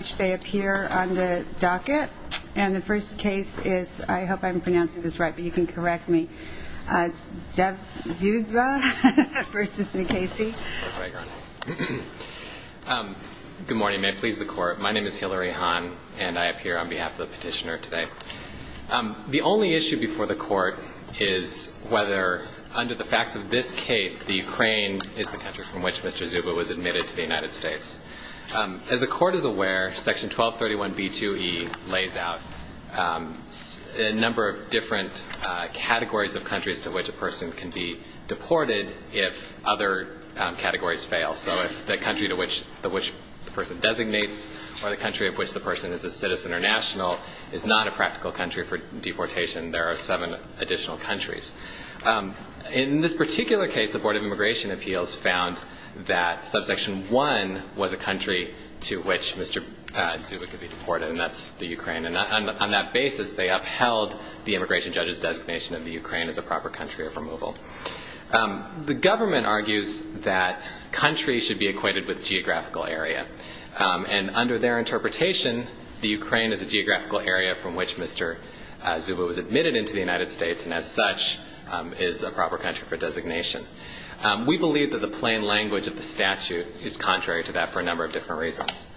on the docket. And the first case is, I hope I'm pronouncing this right, but you can correct me. It's Zev Zyuba v. Mukasey. Good morning. May it please the Court. My name is Hillary Hahn, and I appear on behalf of the petitioner today. The only issue before the Court is whether, under the facts of this case, the Ukraine is the country from which Mr. Zyuba was admitted to the United States. As the Court is aware, Section 1231b2e lays out a number of different categories of countries to which a person can be deported if other categories fail. So if the country to which the person designates or the country of which the person is a citizen or national is not a practical country for deportation, there are seven additional countries. In this particular case, the Board of Immigration Appeals found that Subsection 1 was a country to which Mr. Zyuba could be deported, and that's the Ukraine. And on that basis, they upheld the immigration judge's designation of the Ukraine as a proper country of removal. The government argues that countries should be equated with geographical area. And under their interpretation, the Ukraine is a geographical area from which Mr. Zyuba was admitted into the United States and, as such, is a proper country for designation. We believe that the plain language of the statute is contrary to that for a number of different reasons.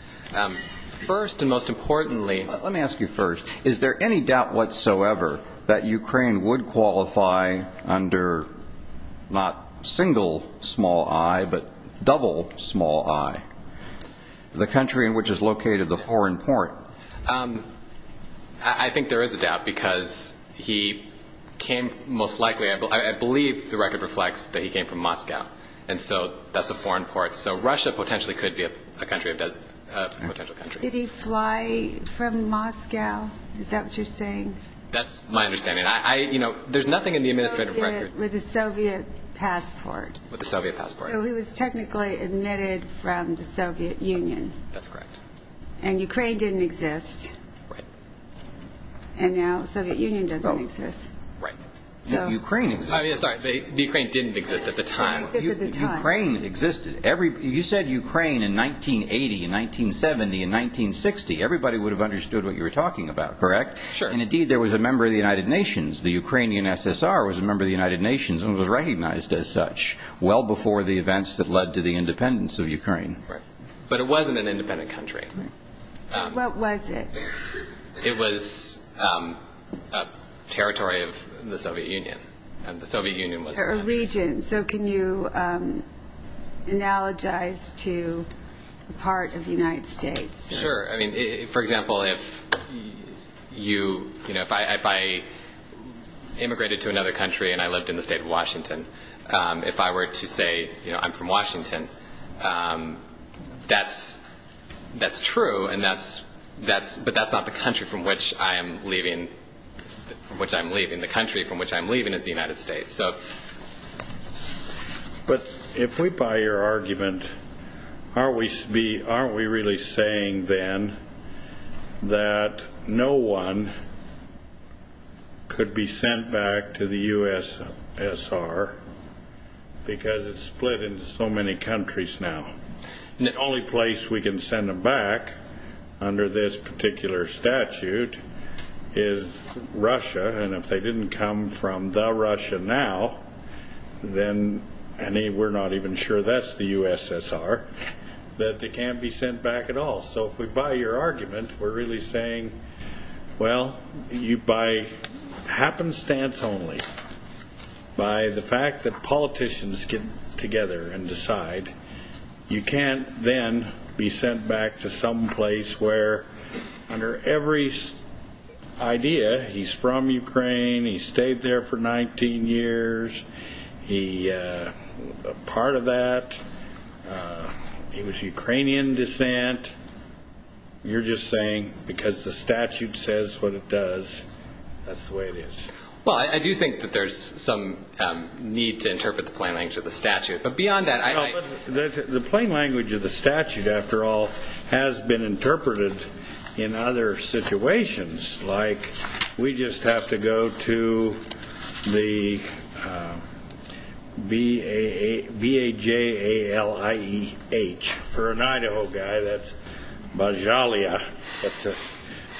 First and most importantly... Let me ask you first. Is there any doubt whatsoever that Ukraine would qualify under not single small i, but double small i, the country in which is located the foreign port? I think there is a doubt, because he came most likely... I believe the record reflects that he came from Moscow, and so that's a foreign port. So Russia potentially could be a country of... a potential country. Did he fly from Moscow? Is that what you're saying? That's my understanding. I... you know, there's nothing in the administrative record... With a Soviet passport. With a Soviet passport. So he was technically admitted from the Soviet Union. That's correct. And Ukraine didn't exist. Right. And now the Soviet Union doesn't exist. Right. Ukraine existed. Sorry, the Ukraine didn't exist at the time. It didn't exist at the time. Ukraine existed. You said Ukraine in 1980, in 1970, in 1960. Everybody would have understood what you were talking about, correct? Sure. And, indeed, there was a member of the United Nations. The Ukrainian SSR was a member of the United Nations and was recognized as such well before the events that led to the independence of Ukraine. Right. But it wasn't an independent country. Right. So what was it? It was a territory of the Soviet Union. And the Soviet Union was... A region. So can you analogize to a part of the United States? Sure. I mean, for example, if you... you know, if I immigrated to another country and I lived in the state of Washington, if I were to say, you know, I'm from Washington, that's true, but that's not the country from which I'm leaving. The country from which I'm leaving is the United States. But if we buy your argument, aren't we really saying, then, that no one could be sent back to the U.S.S.R. because it's split into so many countries now? The only place we can send them back, under this particular statute, is Russia. And if they didn't come from the Russia now, then, and we're not even sure that's the U.S.S.R., that they can't be sent back at all. So if we buy your argument, we're really saying, well, by happenstance only, by the fact that politicians get together and decide, you can't then be sent back to some place where, under every idea, he's from Ukraine, he stayed there for 19 years, he... part of that, he was Ukrainian descent. You're just saying, because the statute says what it does, that's the way it is. Well, I do think that there's some need to interpret the plain language of the statute. But beyond that, I... Well, the plain language of the statute, after all, has been interpreted in other situations, like, we just have to go to the B-A-J-A-L-I-E-H, for an Idaho guy, that's Bajalia, that's a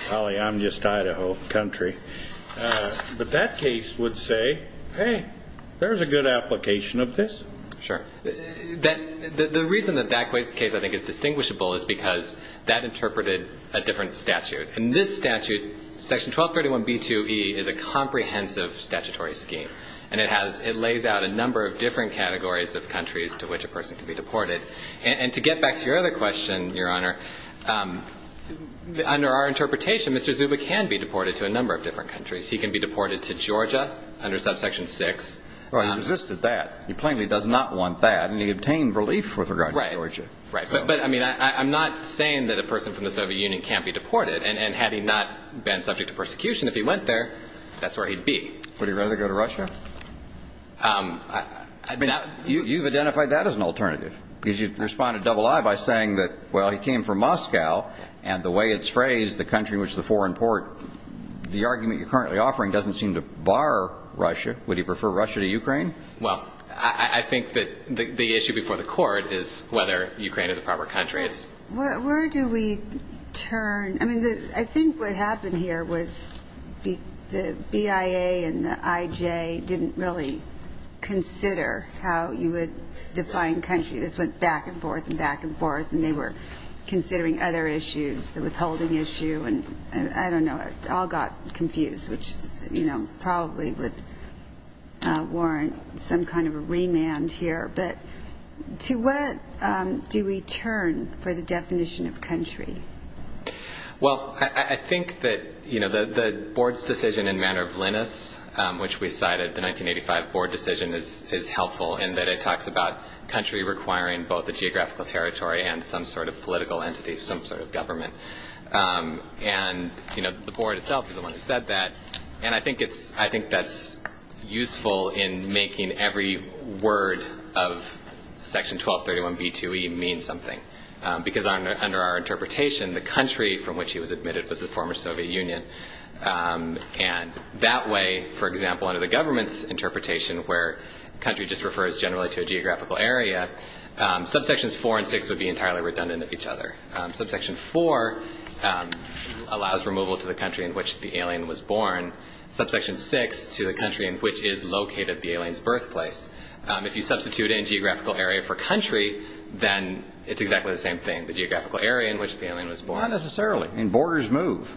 polyamnist Idaho country. But that case would say, hey, there's a good application of this. Sure. The reason that that case, I think, is distinguishable is because that interpreted a different statute. In this statute, section 1231B2E is a comprehensive statutory scheme. And it has – it lays out a number of different categories of countries to which a person can be deported. And to get back to your other question, Your Honor, under our interpretation, Mr. Zuba can be deported to a number of different countries. He can be deported to Georgia under subsection 6. Well, he resisted that. He plainly does not want that. And he obtained relief with regard to Georgia. Right. Right. But, I mean, I'm not saying that a person from the Soviet Union can't be deported. And had he not been subject to persecution, if he went there, that's where he'd be. Would he rather go to Russia? I mean, you've identified that as an alternative. Because you responded double-I by saying that, well, he came from Moscow, and the way it's phrased, the country in which the foreign port – the argument you're currently offering doesn't seem to bar Russia. Would he prefer Russia to Ukraine? Well, I think that the issue before the court is whether Ukraine is a proper country. It's – Where do we turn – I mean, I think what happened here was the BIA and the IJ didn't really consider how you would define country. This went back and forth and back and forth. And they were considering other issues, the withholding issue and – I don't know. It all got confused, which probably would warrant some kind of a remand here. But to what do we turn for the definition of country? Well, I think that the board's decision in Manner of Linus, which we cited, the 1985 board decision, is helpful in that it talks about country requiring both a geographical territory and some sort of political entity, some sort of government. And, you know, the board itself is the one who said that. And I think it's – I think that's useful in making every word of Section 1231b2e mean something. Because under our interpretation, the country from which he was admitted was the former Soviet Union. And that way, for example, under the government's geographical area, subsections 4 and 6 would be entirely redundant of each other. Subsection 4 allows removal to the country in which the alien was born. Subsection 6 to the country in which is located the alien's birthplace. If you substitute a geographical area for country, then it's exactly the same thing, the geographical area in which the alien was born. Not necessarily. Borders move.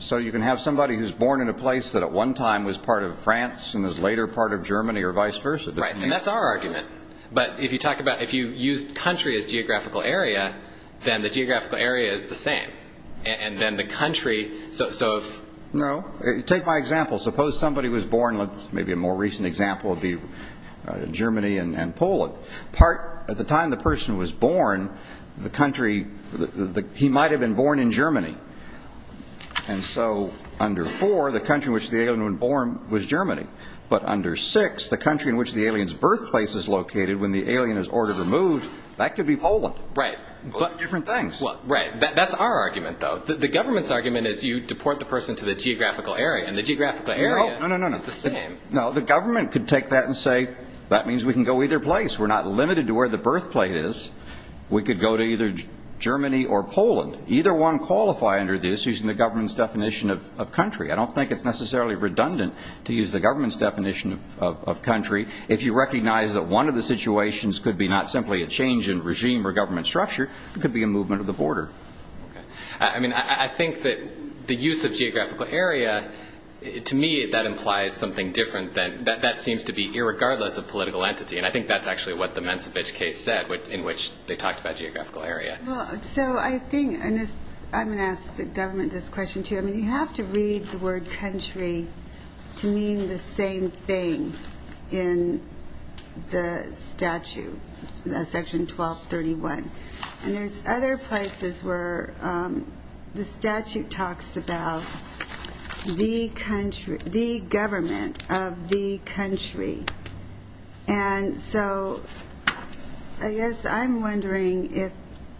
So you can have somebody who's born in a place that at one time was part of France and is later part of Germany or vice versa. Right. And that's our argument. But if you talk about – if you used country as geographical area, then the geographical area is the same. And then the country – so if – No. Take my example. Suppose somebody was born – maybe a more recent example would be Germany and Poland. Part – at the time the person was born, the country – he might have been born in Germany. And so under 4, the country in which the alien was born was Germany. But under 6, the country in which the alien's birthplace is located when the alien is ordered removed, that could be Poland. Right. But – Those are different things. Right. That's our argument, though. The government's argument is you deport the person to the geographical area, and the geographical area is the same. No, no, no, no. No, the government could take that and say, that means we can go either place. We're not limited to where the birthplace is. We could go to either Germany or Poland. Either one qualify under this using the government's definition of country. I don't think it's necessarily redundant to use the government's definition of country. If you recognize that one of the situations could be not simply a change in regime or government structure, it could be a movement of the border. Okay. I mean, I think that the use of geographical area, to me, that implies something different than – that seems to be irregardless of political entity. And I think that's actually what the Mensovich case said, in which they talked about geographical area. Well, so I think – and I'm going to ask the government this question, too. I mean, you have to read the word country to mean the same thing in the statute, section 1231. And there's other places where the statute talks about the country – the government of the country. And so I guess I'm wondering if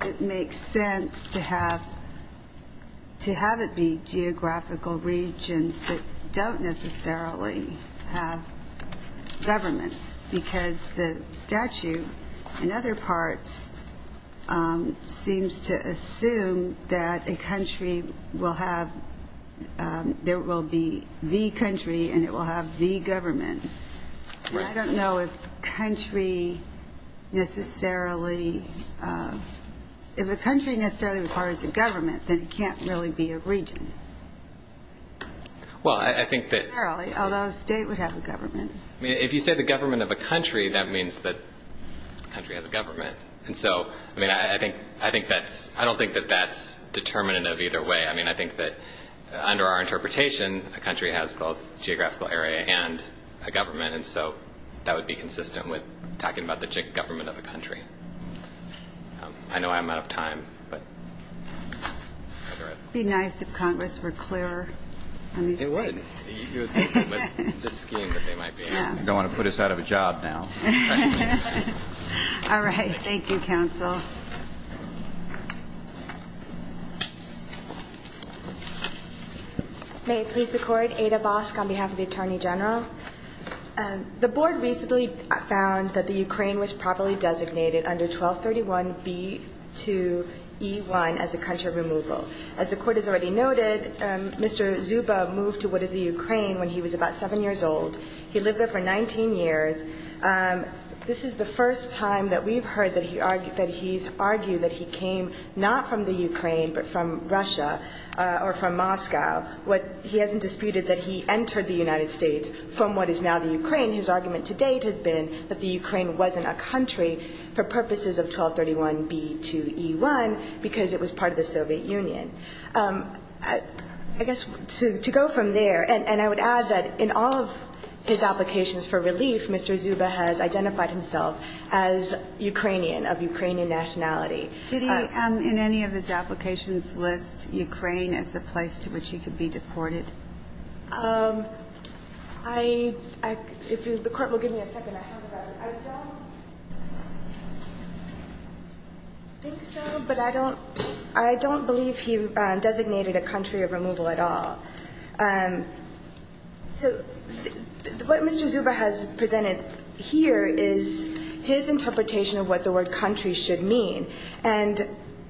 it makes sense to have – to have it be geographical regions that don't necessarily have governments, because the statute, in other parts, seems to assume that a country will have – there will be the country and it will have the government. Right. And I don't know if country necessarily – if a country necessarily requires a government, then it can't really be a region. Well, I think that – Necessarily, although a state would have a government. I mean, if you say the government of a country, that means that the country has a government. And so, I mean, I think that's – I don't think that that's determinative either way. I mean, I think that under our interpretation, a country has both a geographical area and a government. And so that would be consistent with talking about the government of a country. I know I'm out of time, but – It would be nice if Congress were clearer on these things. It would. With the scheme that they might be. They don't want to put us out of a job now. All right. Thank you, Counsel. May it please the Court. Ada Vosk on behalf of the Attorney General. The Board recently found that the Ukraine was properly designated under 1231b2e1 as a country removal. As the Court has already noted, Mr. Zuba moved to what is the Ukraine when he was about 7 years old. He lived there for 19 years. This is the first time that we've heard that he's argued that he came not from the Ukraine but from Russia or from Moscow. He hasn't disputed that he entered the United States from what is now the Ukraine. His argument to date has been that the Ukraine wasn't a country for purposes of 1231b2e1 because it was part of the Soviet Union. I guess to go from there, and I would add that in all of his applications for relief, Mr. Zuba has identified himself as Ukrainian, of Ukrainian nationality. Did he in any of his applications list Ukraine as a place to which he could be deported? I – if the Court will give me a second, I have a question. I don't think so, but I don't – I don't believe he designated a country of removal at all. So what Mr. Zuba has presented here is his interpretation of what the word country should mean. And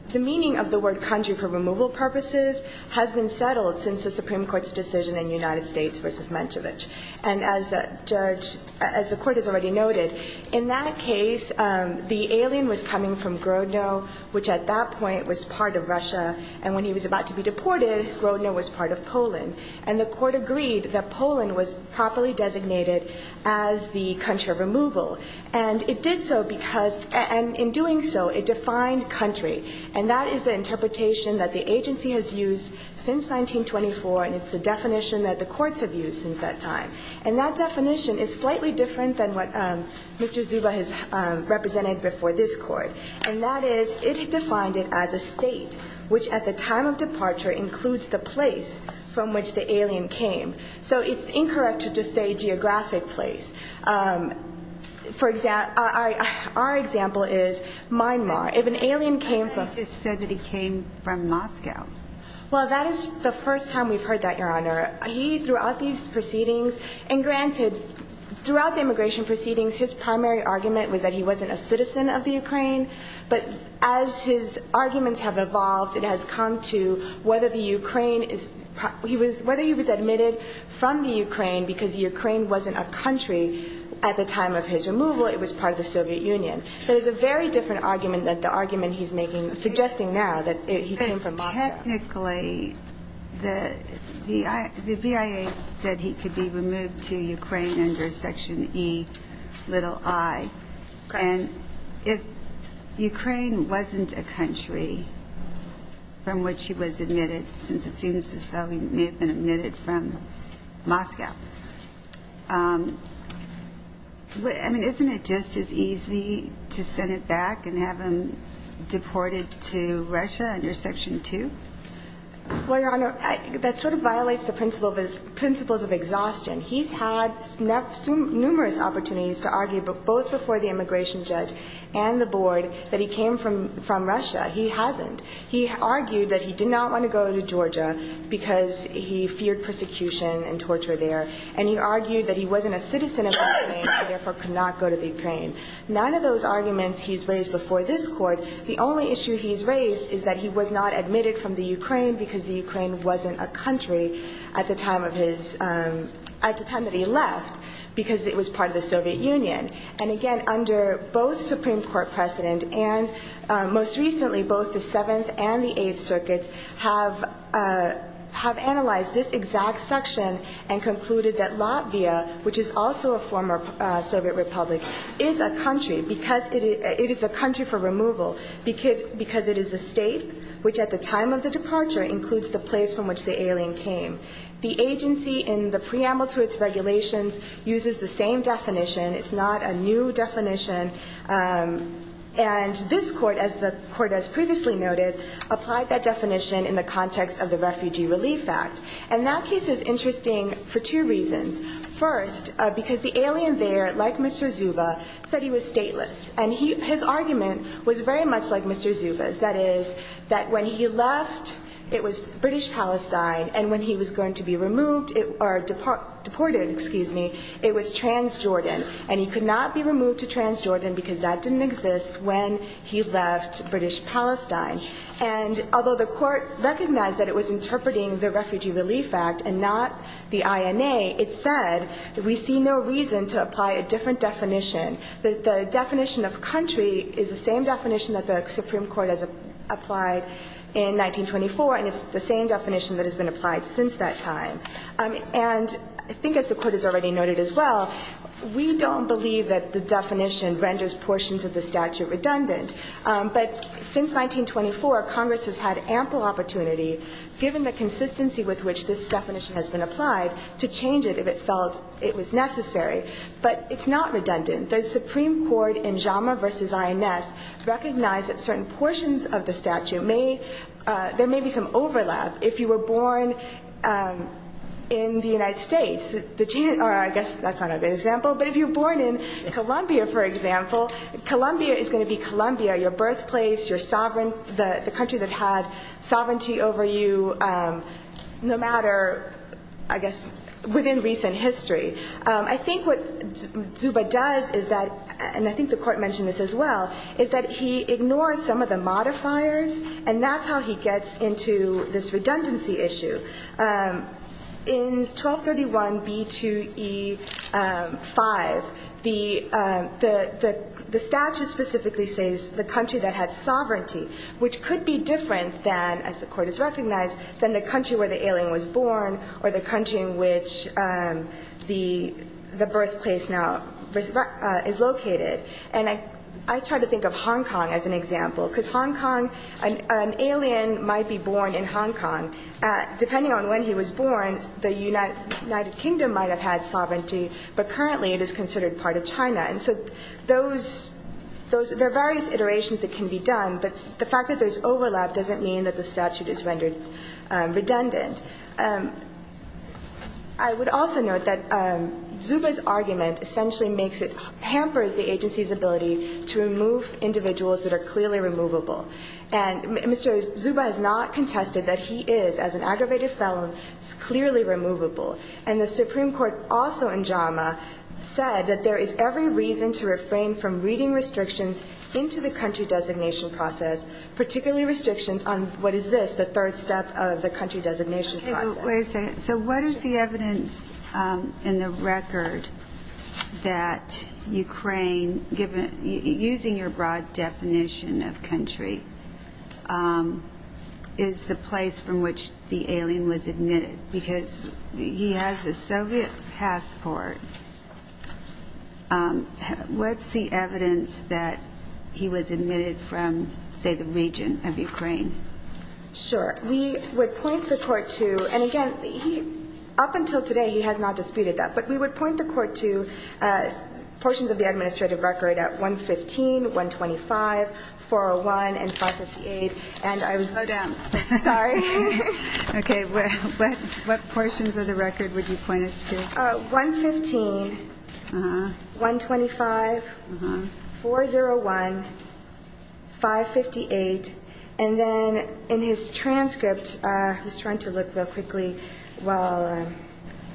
the meaning of the word country for removal purposes has been settled since the Supreme Court's decision in United States v. Menchevich. And as Judge – as the Court has already noted, in that case, the alien was coming from Grodno, which at that point was part of Russia. And when he was about to be deported, Grodno was part of Poland. And the Court agreed that Poland was properly designated as the country of removal. And it did so because – and in doing so, it defined country. And that is the interpretation that the agency has used since 1924, and it's the definition that the courts have used since that time. And that definition is slightly different than what Mr. Zuba has represented before this Court. And that is it defined it as a state, which at the time of departure includes the place from which the alien came. So it's incorrect to just say geographic place. For – our example is Myanmar. If an alien came from – But he just said that he came from Moscow. Well, that is the first time we've heard that, Your Honor. He – throughout these proceedings – and granted, throughout the immigration proceedings, his primary argument was that he wasn't a citizen of the Ukraine. But as his arguments have evolved, it has come to whether the Ukraine is – whether he was admitted from the Ukraine because the Ukraine wasn't a country at the time of his removal. It was part of the Soviet Union. That is a very different argument than the argument he's making – suggesting now that he came from Moscow. But technically, the BIA said he could be removed to Ukraine under Section E, little i. And if Ukraine wasn't a country from which he was admitted, since it seems as though he may have been admitted from Moscow, I mean, isn't it just as easy to send it back and have him deported to Russia under Section 2? Well, Your Honor, that sort of violates the principles of exhaustion. He's had numerous opportunities to argue both before the immigration judge and the Board that he came from Russia. He hasn't. He argued that he did not want to go to Georgia because he feared persecution and torture there. And he argued that he wasn't a citizen of the Ukraine and therefore could not go to the Ukraine. None of those arguments he's raised before this Court. The only issue he's raised is that he was not admitted from the Ukraine because the Ukraine wasn't a country at the time of his – at the time that he left because it was part of the Soviet Union. And again, under both Supreme Court precedent and most recently both the Seventh and the Eighth Circuits have analyzed this exact section and concluded that Latvia, which is also a former Soviet Republic, is a country because it is a country for removal because it is a state which at the time of the departure includes the place from which the alien came. The agency in the preamble to its regulations uses the same definition. It's not a new definition. And this Court, as the Court has previously noted, applied that definition in the context of the Refugee Relief Act. And that case is interesting for two reasons. First, because the alien there, like Mr. Zuba, said he was stateless. And his argument was very much like Mr. Zuba's. That is, that when he left, it was British Palestine, and when he was going to be removed – or deported, excuse me, it was Transjordan. And he could not be removed to Transjordan because that didn't exist when he left British Palestine. And although the Court recognized that it was interpreting the Refugee Relief Act and not the INA, it said that we see no reason to apply a different definition. The definition of country is the same definition that the Supreme Court has applied in 1924, and it's the same definition that has been applied since that time. And I think, as the Court has already noted as well, we don't believe that the definition renders portions of the statute redundant. But since 1924, Congress has had ample opportunity, given the consistency with which this definition has been applied, to change it if it felt it was necessary. But it's not redundant. The Supreme Court in Jamaa v. INS recognized that certain portions of the statute may – there may be some overlap. If you were born in the United States – or I guess that's not a good example. But if you were born in Colombia, for example, Colombia is going to be Colombia, your birthplace, your sovereign – the country that had sovereignty over you no matter, I guess, within recent history. I think what Zuba does is that – and I think the Court mentioned this as well – is that he ignores some of the modifiers, and that's how he gets into this redundancy issue. In 1231 B2E5, the statute specifically says the country that had sovereignty, which could be different than – as the Court has recognized – than the country where the alien was born or the country in which the birthplace now is located. And I try to think of Hong Kong as an example, because Hong Kong – an alien might be born in Hong Kong. Depending on when he was born, the United Kingdom might have had sovereignty, but currently it is considered part of China. And so those – there are various iterations that can be done, but the fact that there's overlap doesn't mean that the statute is rendered redundant. I would also note that Zuba's argument essentially makes it – hampers the agency's ability to remove individuals that are clearly removable. And Mr. Zuba has not contested that he is, as an aggravated felon, clearly removable. And the Supreme Court also in JAMA said that there is every reason to refrain from reading restrictions into the country designation process, particularly restrictions on what is this, the third step of the country designation process. Wait a second. So what is the evidence in the record that Ukraine – using your broad definition of country – is the place from which the alien was admitted? Because he has a Soviet passport. What's the evidence that he was admitted from, say, the region of Ukraine? Sure. We would point the court to – and again, he – up until today he has not disputed that. But we would point the court to portions of the administrative record at 115, 125, 401, and 558. And I was – Slow down. Sorry. Okay. What portions of the record would you point us to? 115, 125, 401, 558. And then in his transcript – I was trying to look real quickly while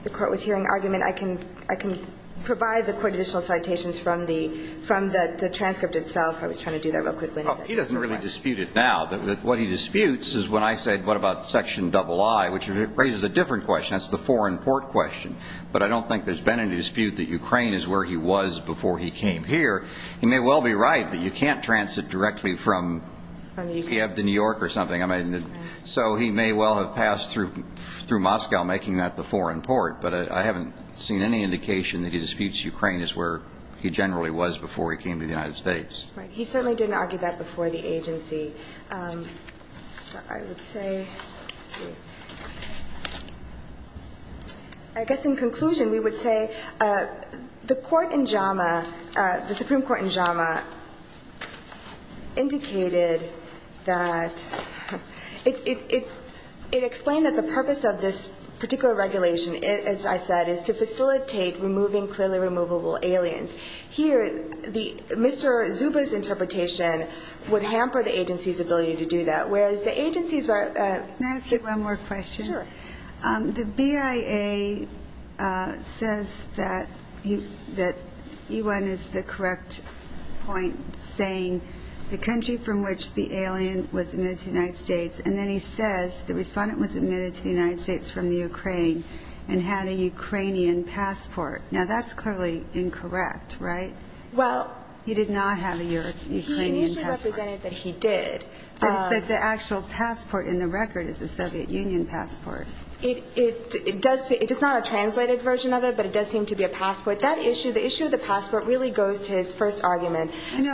the court was hearing argument, I can provide the court additional citations from the transcript itself. I was trying to do that real quickly. He doesn't really dispute it now. What he disputes is when I said, what about Section III, which raises a different question. That's the foreign port question. But I don't think there's been any dispute that Ukraine is where he was before he came here. He may well be right that you can't transit directly from Kiev to New York or something. So he may well have passed through Moscow, making that the foreign port. But I haven't seen any indication that he disputes Ukraine as where he generally was before he came to the United States. Right. He certainly didn't argue that before the agency. I guess in conclusion, we would say the court in JAMA, the Supreme Court in JAMA, indicated that – it explained that the purpose of this particular regulation, as I said, is to facilitate removing clearly removable aliens. Here, Mr. Zuba's interpretation would hamper the agency's ability to do that. Whereas the agency's – Can I ask you one more question? Sure. The BIA says that E1 is the correct point, saying the country from which the alien was admitted to the United States. And then he says the respondent was admitted to the United States from the Ukraine and had a Ukrainian passport. Now, that's clearly incorrect, right? Well – He did not have a Ukrainian passport. He initially represented that he did. But the actual passport in the record is a Soviet Union passport. It does – it is not a translated version of it, but it does seem to be a passport. That issue – the issue of the passport really goes to his first argument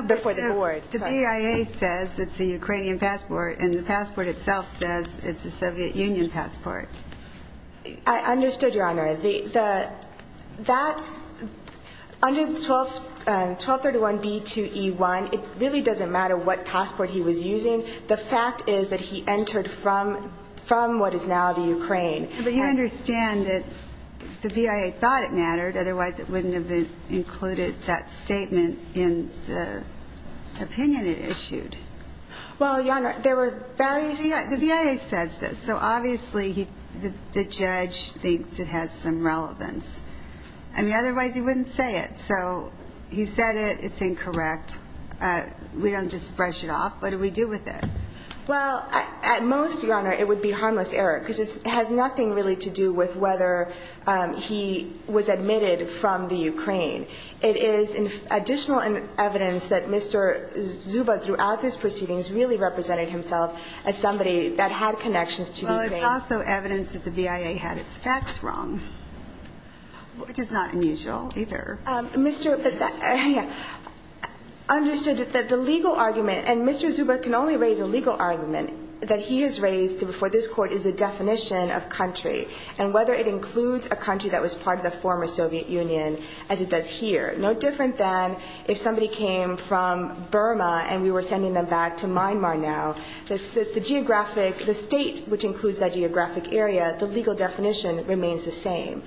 before the board. You know, the BIA says it's a Ukrainian passport, and the passport itself says it's a Soviet Union passport. I understood, Your Honor. The – that – under 1231B2E1, it really doesn't matter what passport he was using. The fact is that he entered from what is now the Ukraine. But you understand that the BIA thought it mattered. Otherwise, it wouldn't have included that statement in the opinion it issued. The BIA says this, so obviously the judge thinks it has some relevance. I mean, otherwise he wouldn't say it. So he said it, it's incorrect. We don't just brush it off. What do we do with it? Well, at most, Your Honor, it would be harmless error because it has nothing really to do with whether he was admitted from the Ukraine. It is additional evidence that Mr. Zuba throughout his proceedings really represented himself as somebody that had connections to Ukraine. Well, it's also evidence that the BIA had its facts wrong, which is not unusual either. Mr. – understood that the legal argument – and Mr. Zuba can only raise a legal argument that he has raised before this Court is the definition of country, and whether it includes a country that was part of the former Soviet Union as it does here. No different than if somebody came from Burma and we were sending them back to Myanmar now. The geographic – the state which includes that geographic area, the legal definition remains the same.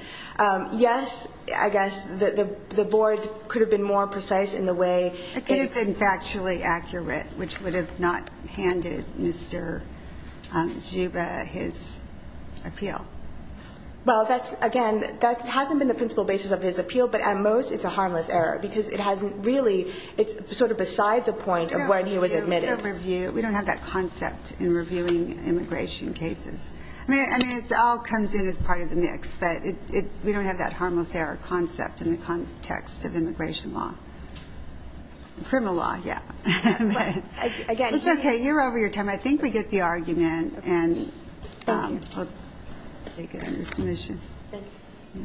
Yes, I guess the Board could have been more precise in the way it – which would have not handed Mr. Zuba his appeal. Well, that's – again, that hasn't been the principal basis of his appeal, but at most it's a harmless error because it hasn't really – it's sort of beside the point of when he was admitted. We don't review – we don't have that concept in reviewing immigration cases. I mean, it all comes in as part of the mix, but we don't have that harmless error concept in the context of immigration law. Criminal law, yeah. But, again – It's okay. You're over your time. I think we get the argument, and I'll take it under submission. Thank you.